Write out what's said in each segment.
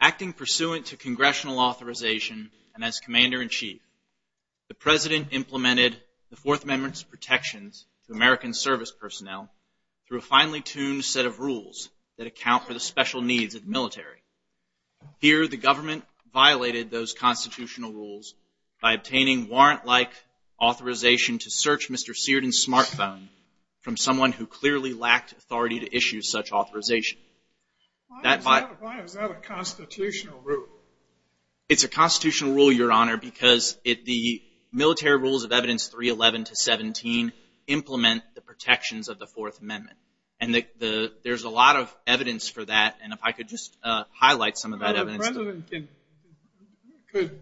Acting pursuant to Congressional authorization and as Commander-in-Chief, the President implemented the Fourth Amendment's protections to American service personnel through a finely tuned set of rules that account for the special needs of the military. Here the government violated those constitutional rules by obtaining warrant-like authorization to search Mr. Seerden's smartphone from someone who clearly lacked authority to issue such authorization. Why is that a constitutional rule? It's a constitutional rule, Your Honor, because the military rules of Evidence 311 to 317 implement the protections of the Fourth Amendment. And there's a lot of evidence for that, and if I could just highlight some of that evidence. The President could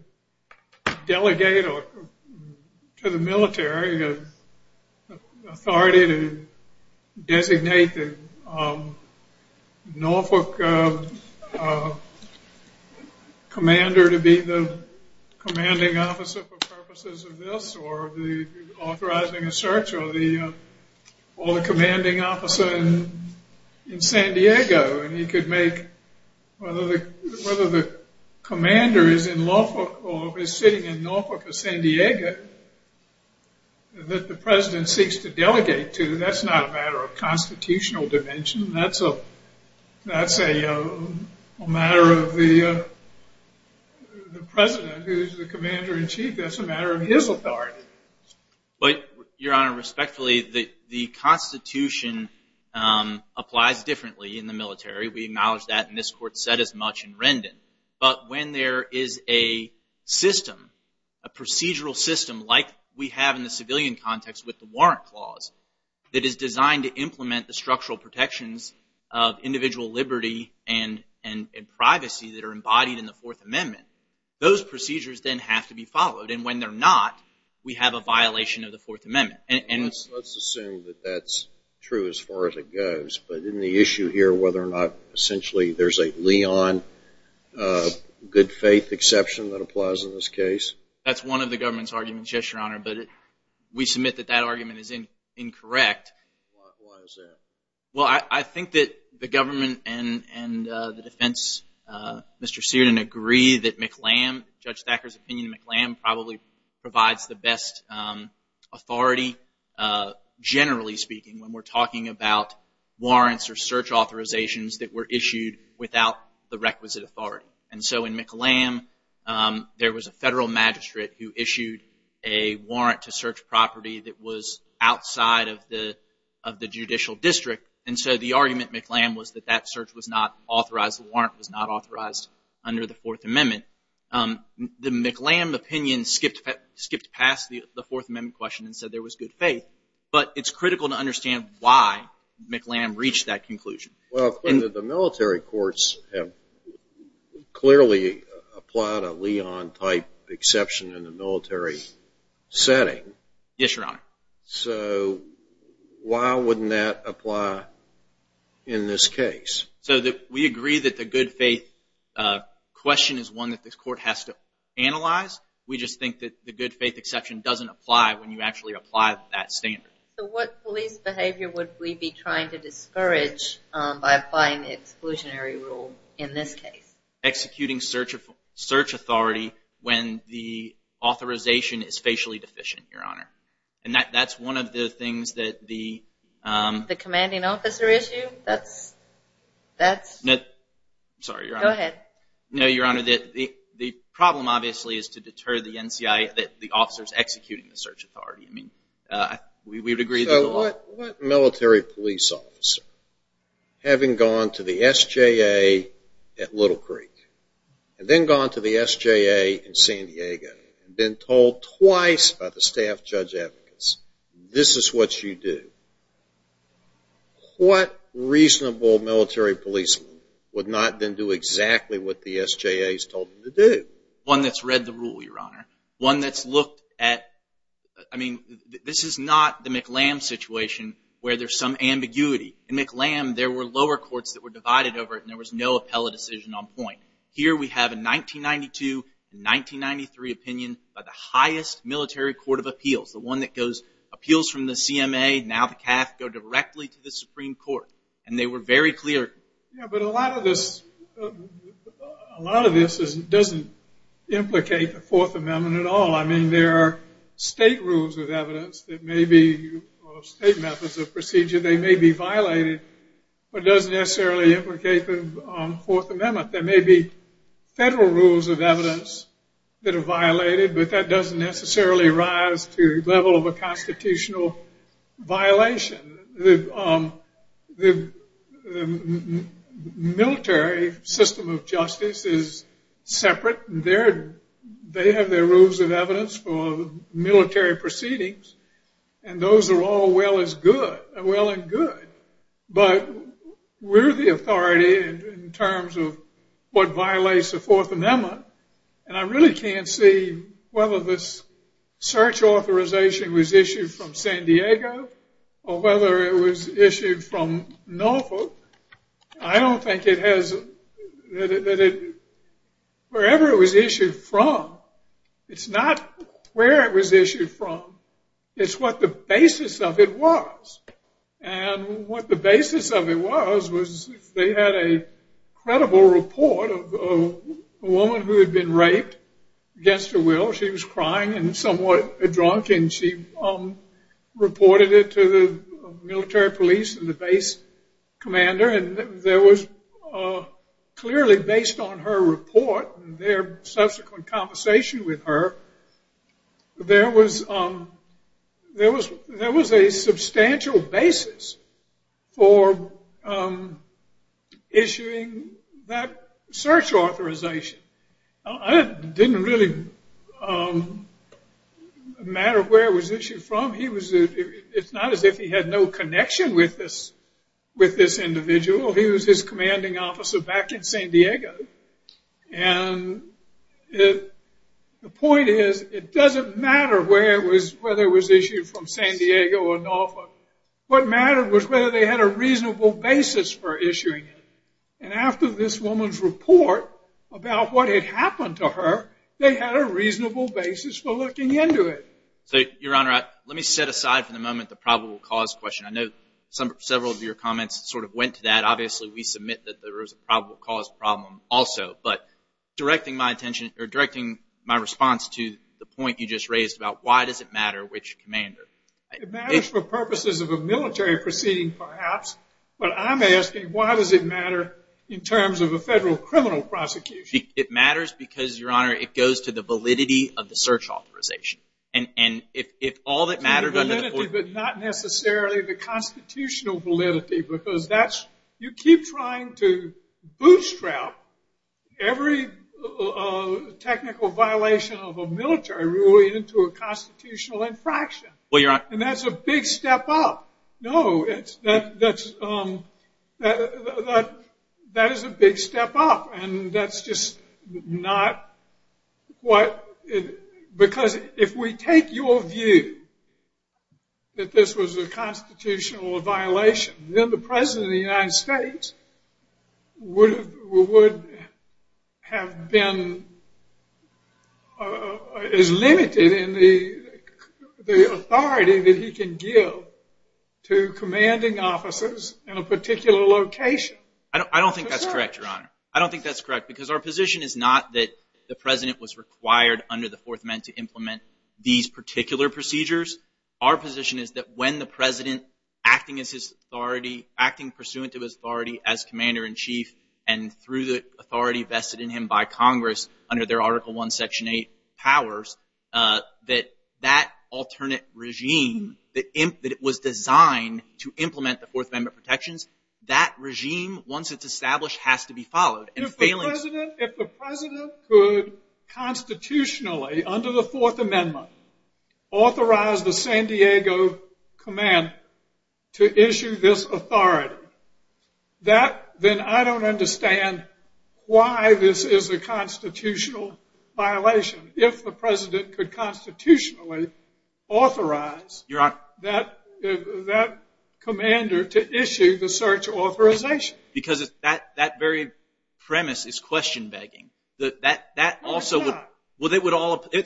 delegate to the military authority to designate the Norfolk commander to be the commanding officer for purposes of this, or authorizing a search, or the commanding officer in San Diego, and he could make, whether the commander is in Norfolk or is sitting in Norfolk or San Diego, that the President seeks to delegate to, that's not a matter of constitutional dimension, that's a matter of the President, who's the Commander-in-Chief, that's a matter of his authority. But, Your Honor, respectfully, the Constitution applies differently in the military. We acknowledge that, and this Court said as much in Rendon. But when there is a system, a procedural system like we have in the civilian context with the warrant clause, that is designed to implement the structural protections of individual liberty and privacy that are embodied in the Fourth Amendment, those procedures then have to be a violation of the Fourth Amendment. Let's assume that that's true as far as it goes, but in the issue here, whether or not essentially there's a Leon good faith exception that applies in this case? That's one of the government's arguments, yes, Your Honor, but we submit that that argument is incorrect. Why is that? Well, I think that the government and the defense, Mr. Seardon, agree that McLam, Judge McLam, had the best authority, generally speaking, when we're talking about warrants or search authorizations that were issued without the requisite authority. And so in McLam, there was a federal magistrate who issued a warrant to search property that was outside of the judicial district, and so the argument, McLam, was that that search was not authorized, the warrant was not authorized under the Fourth Amendment. The McLam opinion skipped past the Fourth Amendment question and said there was good faith, but it's critical to understand why McLam reached that conclusion. Well, the military courts have clearly applied a Leon-type exception in the military setting. Yes, Your Honor. So why wouldn't that apply in this case? So we agree that the good faith question is one that the court has to analyze. We just think that the good faith exception doesn't apply when you actually apply that standard. So what police behavior would we be trying to discourage by applying the exclusionary rule in this case? Executing search authority when the authorization is facially deficient, Your Honor. And that's one of the things that the... The commanding officer issue? That's... That's... Sorry, Your Honor. Go ahead. No, Your Honor. The problem, obviously, is to deter the NCIA that the officer is executing the search authority. We would agree that... So what military police officer, having gone to the SJA at Little Creek, and then gone to the SJA in San Diego, and been told twice by the staff judge advocates, this is what you do. What reasonable military police would not then do exactly what the SJA has told them to do? One that's read the rule, Your Honor. One that's looked at... I mean, this is not the McLam situation where there's some ambiguity. In McLam, there were lower courts that were divided over it, and there was no appellate decision on point. Here we have a 1992 and 1993 opinion by the highest military court of appeals, the one that goes... Appeals from the CMA, now the CAF, go directly to the Supreme Court. And they were very clear... Yeah, but a lot of this... A lot of this doesn't implicate the Fourth Amendment at all. I mean, there are state rules of evidence that may be, or state methods of procedure, they may be violated, but it doesn't necessarily implicate the Fourth Amendment. There may be federal rules of evidence that are violated, but that doesn't necessarily rise to the level of a constitutional violation. The military system of justice is separate. They have their rules of evidence for military proceedings, and those are all well and good. But we're the authority in terms of what violates the Fourth Amendment, and I really can't see whether this search authorization was issued from San Diego, or whether it was issued from Norfolk. I don't think it has... Wherever it was issued from, it's not where it was issued from, it's what the basis of it was. And what the basis of it was, was they had a credible report of a woman who had been killed. She was crying and somewhat drunk, and she reported it to the military police and the base commander, and there was clearly, based on her report, and their subsequent conversation with her, there was a substantial basis for issuing that search authorization. It didn't really matter where it was issued from. It's not as if he had no connection with this individual, he was his commanding officer back in San Diego, and the point is, it doesn't matter where it was, whether it was issued from San Diego or Norfolk, what mattered was whether they had a reasonable basis for issuing it. And after this woman's report about what had happened to her, they had a reasonable basis for looking into it. So, your honor, let me set aside for the moment the probable cause question. I know several of your comments sort of went to that, obviously we submit that there was a probable cause problem also, but directing my attention, or directing my response to the point you just raised about why does it matter which commander? It matters for purposes of a military proceeding perhaps, but I'm asking why does it matter in terms of a federal criminal prosecution? It matters because, your honor, it goes to the validity of the search authorization. And if all that mattered under the- The validity, but not necessarily the constitutional validity, because that's, you keep trying to bootstrap every technical violation of a military ruling into a constitutional infraction. Well, your honor- And that's a big step up. No, that is a big step up, and that's just not what, because if we take your view that this was a constitutional violation, then the president of the United States would have been as limited in the authority that he can give to commanding officers in a particular location. I don't think that's correct, your honor. I don't think that's correct, because our position is not that the president was required under the Fourth Amendment to implement these particular procedures. Our position is that when the president, acting as his authority, acting pursuant to his authority as commander-in-chief, and through the authority vested in him by Congress under their Article I, Section 8 powers, that that alternate regime, that it was designed to implement the Fourth Amendment protections, that regime, once it's established, has to be followed. And failing- If the president could constitutionally, under the Fourth Amendment, authorize the San Diego command to issue this authority, that, then I don't understand why this is a constitutional violation. If the president could constitutionally authorize that commander to issue the search authorization. Because that very premise is question-begging. No, it's not.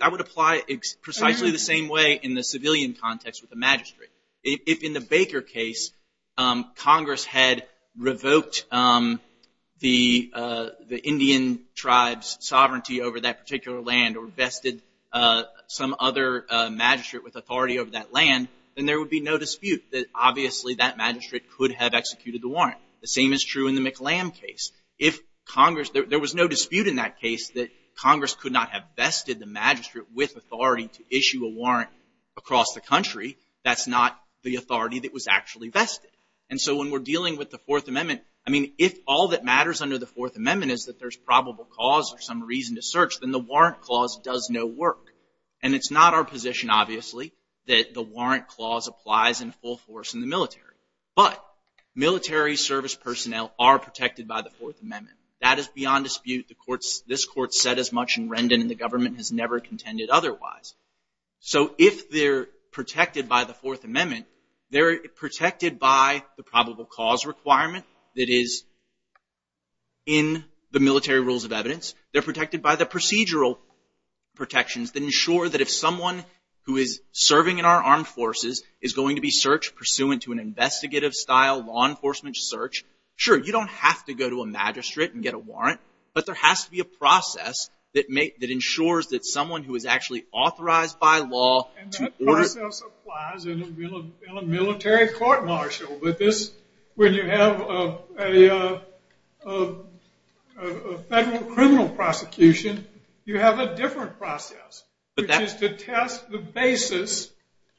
I would apply precisely the same way in the civilian context with the magistrate. If in the Baker case, Congress had revoked the Indian tribe's sovereignty over that particular land or vested some other magistrate with authority over that land, then there would be no dispute that, obviously, that magistrate could have executed the warrant. The same is true in the McClam case. If Congress- There was no dispute in that case that Congress could not have vested the magistrate with authority to issue a warrant across the country. That's not the authority that was actually vested. And so when we're dealing with the Fourth Amendment, I mean, if all that matters under the Fourth Amendment is that there's probable cause or some reason to search, then the warrant clause does no work. And it's not our position, obviously, that the warrant clause applies in full force in the military. But military service personnel are protected by the Fourth Amendment. That is beyond dispute. This Court said as much, and Rendon and the government has never contended otherwise. So if they're protected by the Fourth Amendment, they're protected by the probable cause requirement that is in the military rules of evidence. They're protected by the procedural protections that ensure that if someone who is serving in our armed forces is going to be searched pursuant to an investigative style law enforcement search, sure, you don't have to go to a magistrate and get a warrant. But there has to be a process that ensures that someone who is actually authorized by law- And that process applies in a military court-martial, but when you have a federal criminal prosecution, you have a different process, which is to test the basis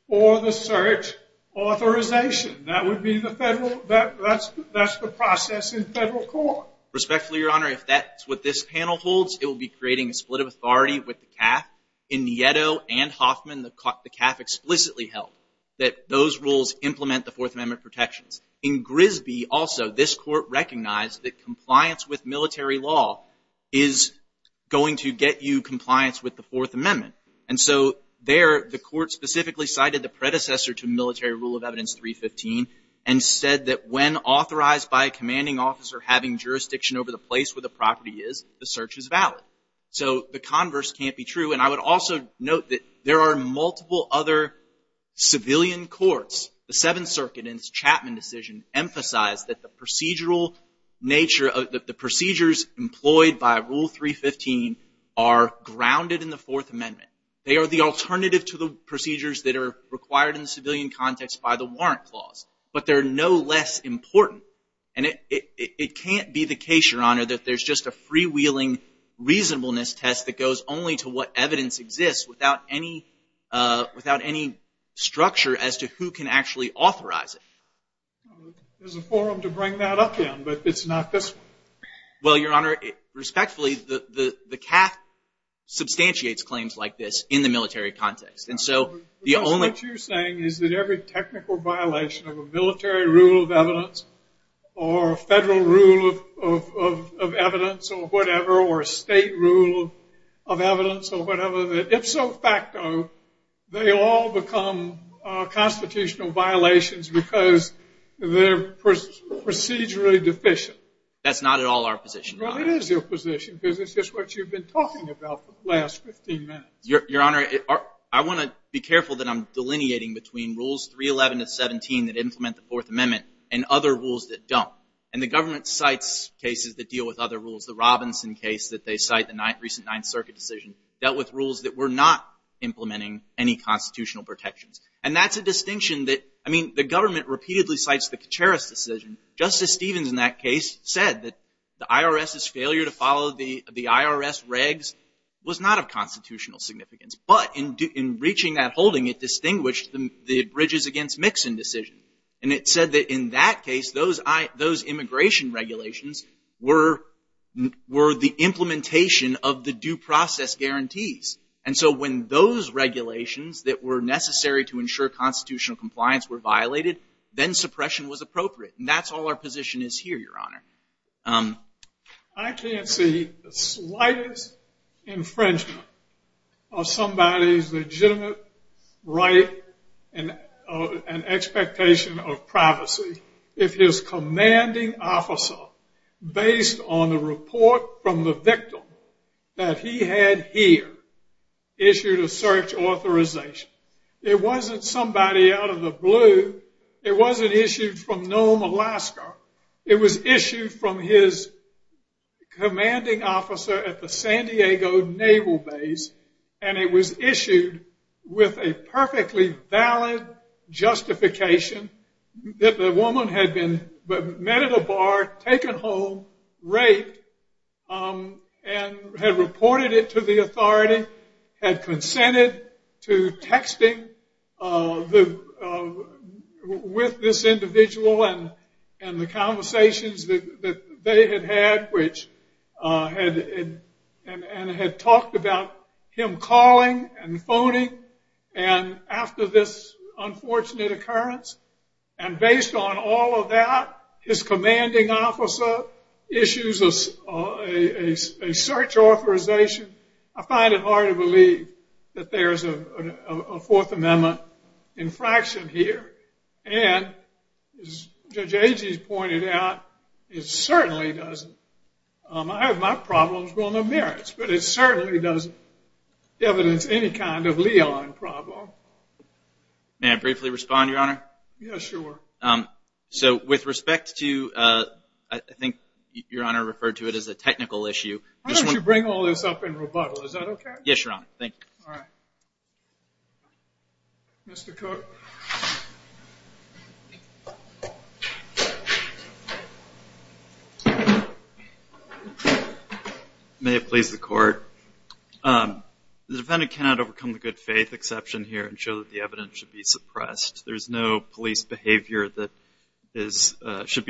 for the search authorization. That would be the federal- that's the process in federal court. Respectfully, Your Honor, if that's what this panel holds, it will be creating a split of authority with the CAF. In Nieto and Hoffman, the CAF explicitly held that those rules implement the Fourth Amendment protections. In Grisby, also, this court recognized that compliance with military law is going to get you compliance with the Fourth Amendment. And so there, the court specifically cited the predecessor to military rule of evidence 315 and said that when authorized by a commanding officer having jurisdiction over the place where the property is, the search is valid. So the converse can't be true. And I would also note that there are multiple other civilian courts, the Seventh Circuit in its Chapman decision emphasized that the procedural nature of the procedures employed by Rule 315 are grounded in the Fourth Amendment. They are the alternative to the procedures that are required in the civilian context by the Warrant Clause. But they're no less important. And it can't be the case, Your Honor, that there's just a freewheeling reasonableness test that goes only to what evidence exists without any structure as to who can actually authorize it. There's a forum to bring that up again, but it's not this one. Well, Your Honor, respectfully, the CAF substantiates claims like this in the military context. And so the only- What you're saying is that every technical violation of a military rule of evidence or federal rule of evidence or whatever or state rule of evidence or whatever, that ipso facto, they all become constitutional violations because they're procedurally deficient. That's not at all our position, Your Honor. Well, it is your position, because it's just what you've been talking about for the last 15 minutes. Your Honor, I want to be careful that I'm delineating between Rules 311 to 17 that implement the Fourth Amendment and other rules that don't. And the government cites cases that deal with other rules. The Robinson case that they cite, the recent Ninth Circuit decision, dealt with rules that were not implementing any constitutional protections. And that's a distinction that, I mean, the government repeatedly cites the Kacharis decision. Justice Stevens in that case said that the IRS's failure to follow the IRS regs was not of constitutional significance. But in reaching that holding, it distinguished the Bridges against Mixon decision. And it said that in that case, those immigration regulations were the implementation of the due process guarantees. And so when those regulations that were necessary to ensure constitutional compliance were violated, then suppression was appropriate. And that's all our position is here, Your Honor. I can't see the slightest infringement of somebody's legitimate right and expectation of privacy if his commanding officer, based on the report from the victim that he had here, issued a search authorization. It wasn't somebody out of the blue. It wasn't issued from Nome, Alaska. It was issued from his commanding officer at the San Diego Naval Base. And it was issued with a perfectly valid justification that the woman had been met at a bar, taken home, raped, and had reported it to the authority, had consented to texting with this individual and the conversations that they had had and had talked about him calling and phoning after this unfortunate occurrence. And based on all of that, his commanding officer issues a search authorization. I find it hard to believe that there is a Fourth Amendment infraction here. And as Judge Agee has pointed out, it certainly doesn't. I have my problems, but no merits. But it certainly doesn't evidence any kind of liaison problem. May I briefly respond, Your Honor? Yes, sure. So with respect to, I think Your Honor referred to it as a technical issue. Why don't you bring all this up in rebuttal? Is that OK? Yes, Your Honor. Thank you. All right. Mr. Cook. May it please the Court. The defendant cannot overcome the good faith exception here and show that the evidence should be suppressed. There is no police behavior that needs to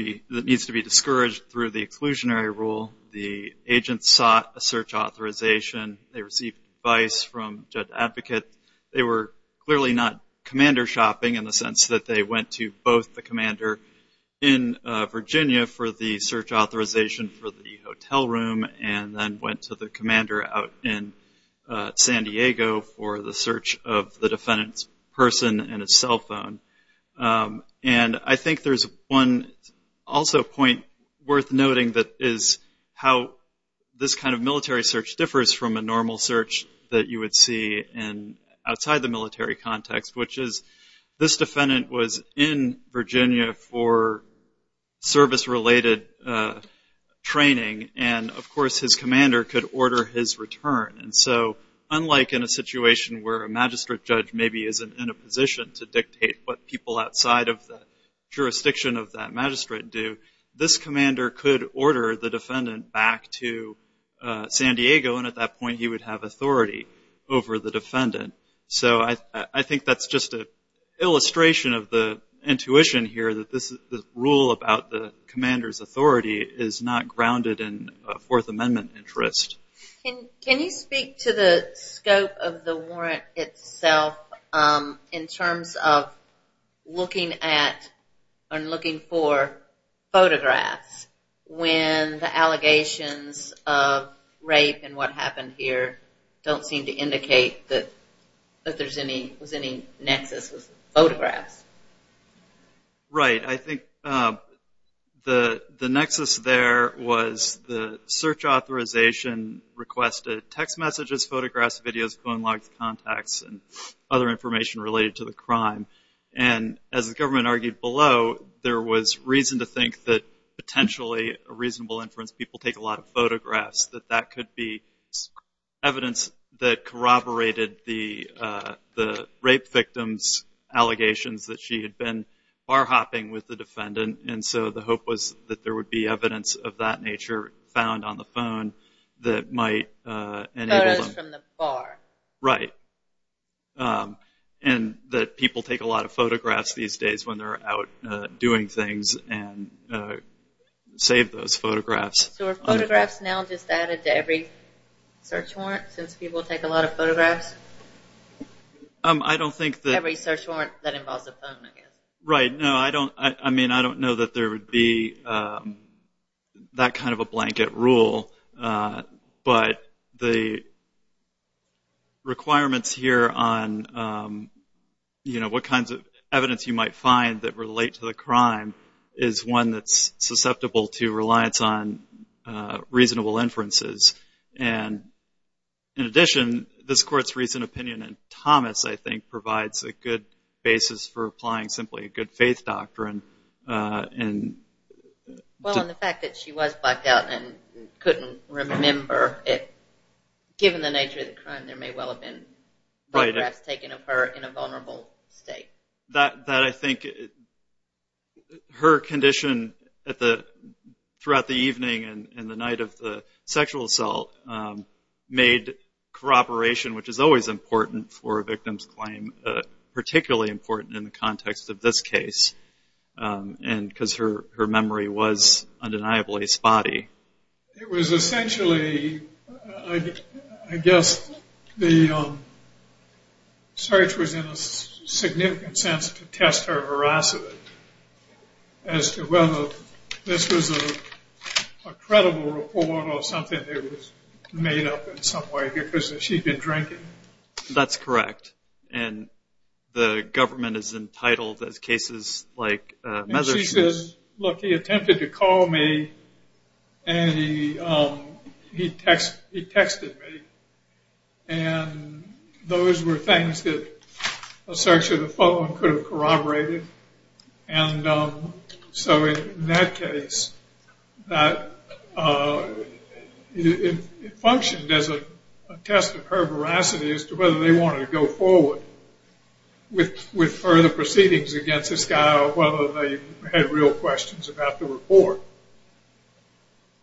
be discouraged through the exclusionary rule. The agent sought a search authorization. They received advice from a judge advocate. They were clearly not commander shopping in the sense that they went to both the commander in Virginia for the search authorization for the hotel room and then went to the commander out in San Diego for the search of the defendant's person and his cell phone. And I think there's one also point worth noting that is how this kind of military search differs from a normal search that you would see outside the military context, which is this defendant was in Virginia for service-related training and, of course, his commander could order his return. And so unlike in a situation where a magistrate judge maybe isn't in a position to dictate what people outside of the jurisdiction of that magistrate do, this commander could order the defendant back to San Diego and at that point he would have authority over the defendant. So I think that's just an illustration of the intuition here that this rule about the commander's authority is not grounded in a Fourth Amendment interest. Can you speak to the scope of the warrant itself in terms of looking at or looking for photographs when the allegations of rape and what happened here don't seem to indicate that there was any nexus with photographs? Right. I think the nexus there was the search authorization requested text messages, photographs, videos, phone logs, contacts, and other information related to the crime. And as the government argued below, there was reason to think that potentially a reasonable inference people take a lot of photographs, that that could be evidence that corroborated the rape victim's allegations that she had been bar hopping with the defendant. And so the hope was that there would be evidence of that nature found on the phone that might enable them. Photos from the bar. Right. And that people take a lot of photographs these days when they're out doing things and save those photographs. So are photographs now just added to every search warrant since people take a lot of photographs? I don't think that... Every search warrant that involves a phone, I guess. Right. No, I don't know that there would be that kind of a blanket rule, but the requirements here on what kinds of evidence you might find that relate to the crime is one that's susceptible to reliance on reasonable inferences. And in addition, this court's recent opinion in Thomas, I think, provides a good basis for applying simply a good faith doctrine. Well, and the fact that she was blacked out and couldn't remember, given the nature of the crime, there may well have been photographs taken of her in a vulnerable state. That I think her condition throughout the evening and the night of the sexual assault made corroboration, which is always important for a victim's claim, particularly important in the context of this case, because her memory was undeniably spotty. It was essentially, I guess, the search was in a significant sense to test her veracity as to whether this was a credible report or something that was made up in some way because she'd been drinking. That's correct. And the government is entitled, as cases like Meathers shows... And he texted me. And those were things that a search of the phone could have corroborated. And so in that case, it functioned as a test of her veracity as to whether they wanted to go forward with further proceedings against this guy or whether they had real questions about the report.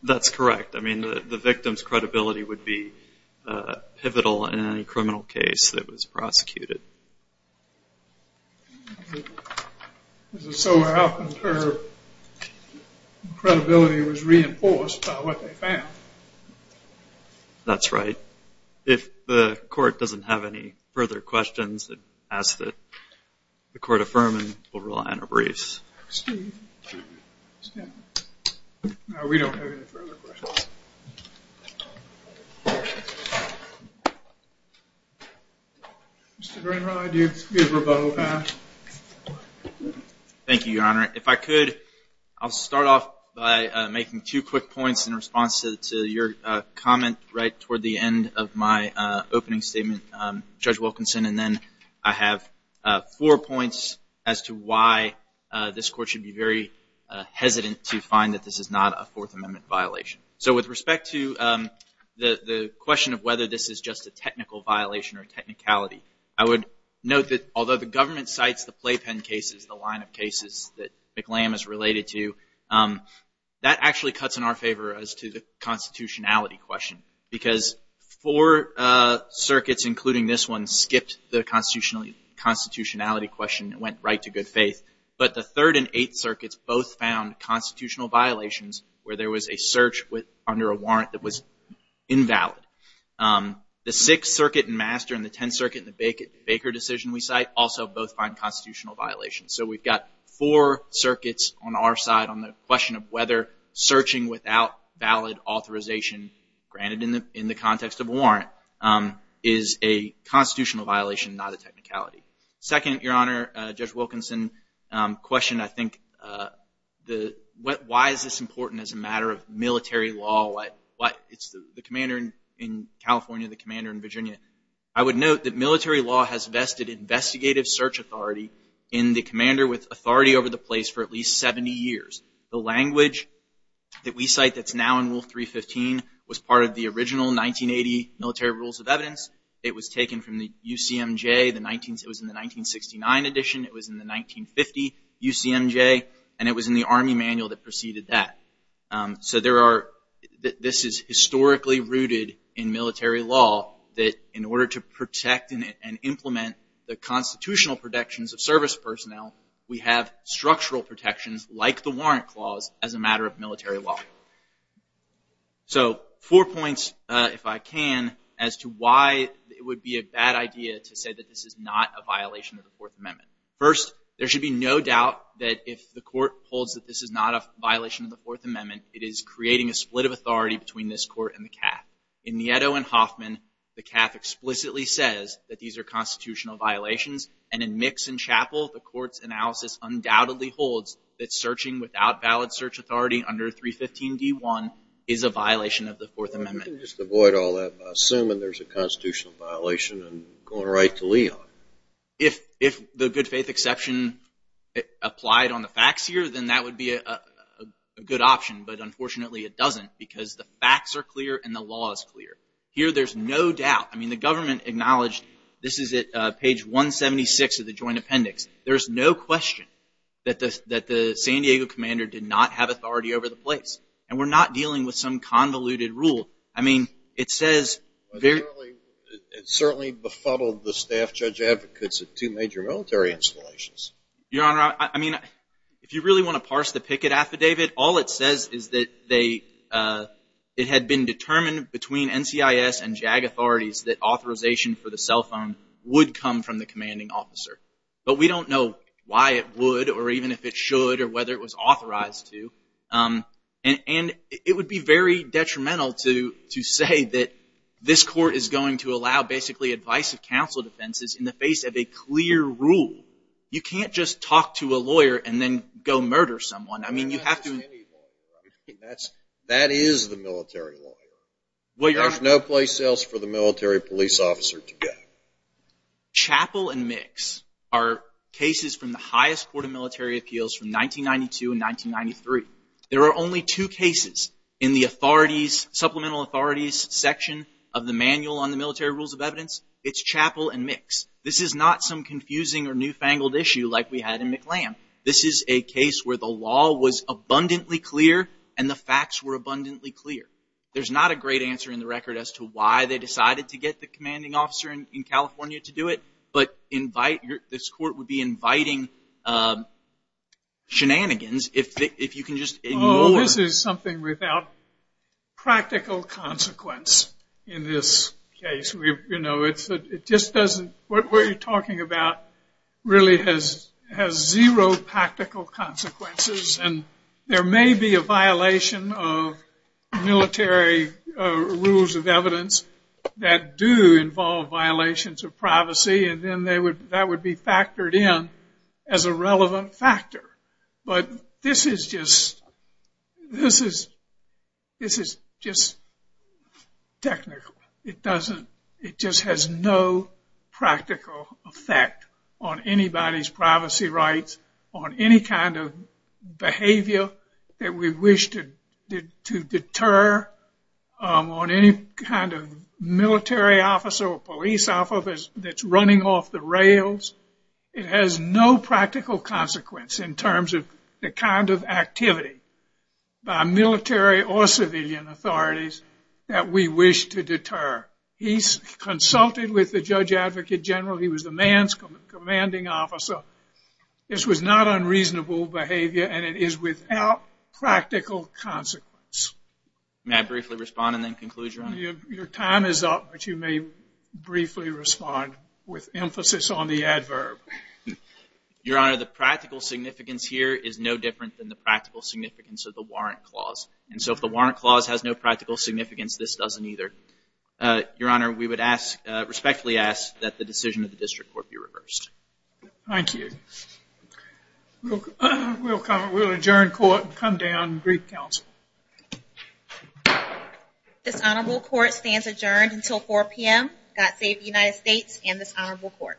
That's correct. I mean, the victim's credibility would be pivotal in any criminal case that was prosecuted. Is it so her credibility was reinforced by what they found? That's right. If the court doesn't have any further questions, ask that the court affirm and we'll rely on our briefs. Steve? No, we don't have any further questions. Mr. Greenhild, you have a rebuttal time. Thank you, Your Honor. If I could, I'll start off by making two quick points in response to your comment right toward the end of my opening statement, Judge Wilkinson, and then I have four points as to why this court should be very hesitant to find that this is not a Fourth Amendment violation. So with respect to the question of whether this is just a technical violation or technicality, I would note that although the government cites the playpen cases, the line of cases that McLam is related to, that actually cuts in our favor as to the constitutionality question because four circuits, including this one, skipped the constitutionality question and went right to good faith. But the Third and Eighth Circuits both found constitutional violations where there was a search under a warrant that was invalid. The Sixth Circuit and Master and the Tenth Circuit and the Baker decision we cite also both find constitutional violations. So we've got four circuits on our side on the question of whether searching without valid authorization, granted in the context of a warrant, is a constitutional violation, not a technicality. Second, Your Honor, Judge Wilkinson, question I think, why is this important as a matter of military law? It's the commander in California, the commander in Virginia. I would note that military law has vested investigative search authority in the commander with authority over the place for at least 70 years. The language that we cite that's now in Rule 315 was part of the original 1980 Military Rules of Evidence. It was taken from the UCMJ, it was in the 1969 edition, it was in the 1950 UCMJ, and it was in the Army Manual that preceded that. So this is historically rooted in military law that in order to protect and implement the constitutional protections of service personnel, we have structural protections like the Warrant Clause as a matter of military law. So four points, if I can, as to why it would be a bad idea to say that this is not a violation of the Fourth Amendment. First, there should be no doubt that if the Court holds that this is not a violation of the Fourth Amendment, it is creating a split of authority between this Court and the CAF. In Nieto and Hoffman, the CAF explicitly says that these are constitutional violations, and in Mix and Chappell, the Court's analysis undoubtedly holds that searching without valid search authority under 315D1 is a violation of the Fourth Amendment. Well, I can just avoid all that by assuming there's a constitutional violation and going right to Leon. If the good faith exception applied on the facts here, then that would be a good option, but unfortunately it doesn't because the facts are clear and the law is clear. Here, there's no doubt. I mean, the government acknowledged, this is at page 176 of the Joint Appendix, there's no question that the San Diego commander did not have authority over the place, and we're not dealing with some convoluted rule. I mean, it says... It certainly befuddled the staff judge advocates at two major military installations. Your Honor, I mean, if you really want to parse the Pickett Affidavit, all it says is that it had been determined between NCIS and JAG authorities that authorization for the cell phone would come from the commanding officer. But we don't know why it would or even if it should or whether it was authorized to. And it would be very detrimental to say that this court is going to allow basically advice of counsel defenses in the face of a clear rule. You can't just talk to a lawyer and then go murder someone. I mean, you have to... That is the military lawyer. Well, Your Honor... There's no place else for the military police officer to go. Chappell and Mix are cases from the highest court of military appeals from 1992 and 1993. There are only two cases in the supplemental authorities section of the Manual on the Military Rules of Evidence. It's Chappell and Mix. This is not some confusing or newfangled issue like we had in McLam. This is a case where the law was abundantly clear and the facts were abundantly clear. There's not a great answer in the record as to why they decided to get the commanding officer in California to do it. But this court would be inviting shenanigans if you can just ignore... Oh, this is something without practical consequence in this case. You know, it just doesn't... What we're talking about really has zero practical consequences. There may be a violation of military rules of evidence that do involve violations of privacy and then that would be factored in as a relevant factor. But this is just... This is just technical. It doesn't... on anybody's privacy rights, on any kind of behavior that we wish to deter, on any kind of military officer or police officer that's running off the rails. It has no practical consequence in terms of the kind of activity by military or civilian authorities that we wish to deter. He's consulted with the judge advocate general. He was the man's commanding officer. This was not unreasonable behavior and it is without practical consequence. May I briefly respond and then conclude, Your Honor? Your time is up, but you may briefly respond with emphasis on the adverb. Your Honor, the practical significance here is no different than the practical significance of the warrant clause. And so if the warrant clause has no practical significance, this doesn't either. Your Honor, we would respectfully ask that the decision of the district court be reversed. Thank you. We'll adjourn court and come down and brief counsel. This honorable court stands adjourned until 4 p.m. God save the United States and this honorable court.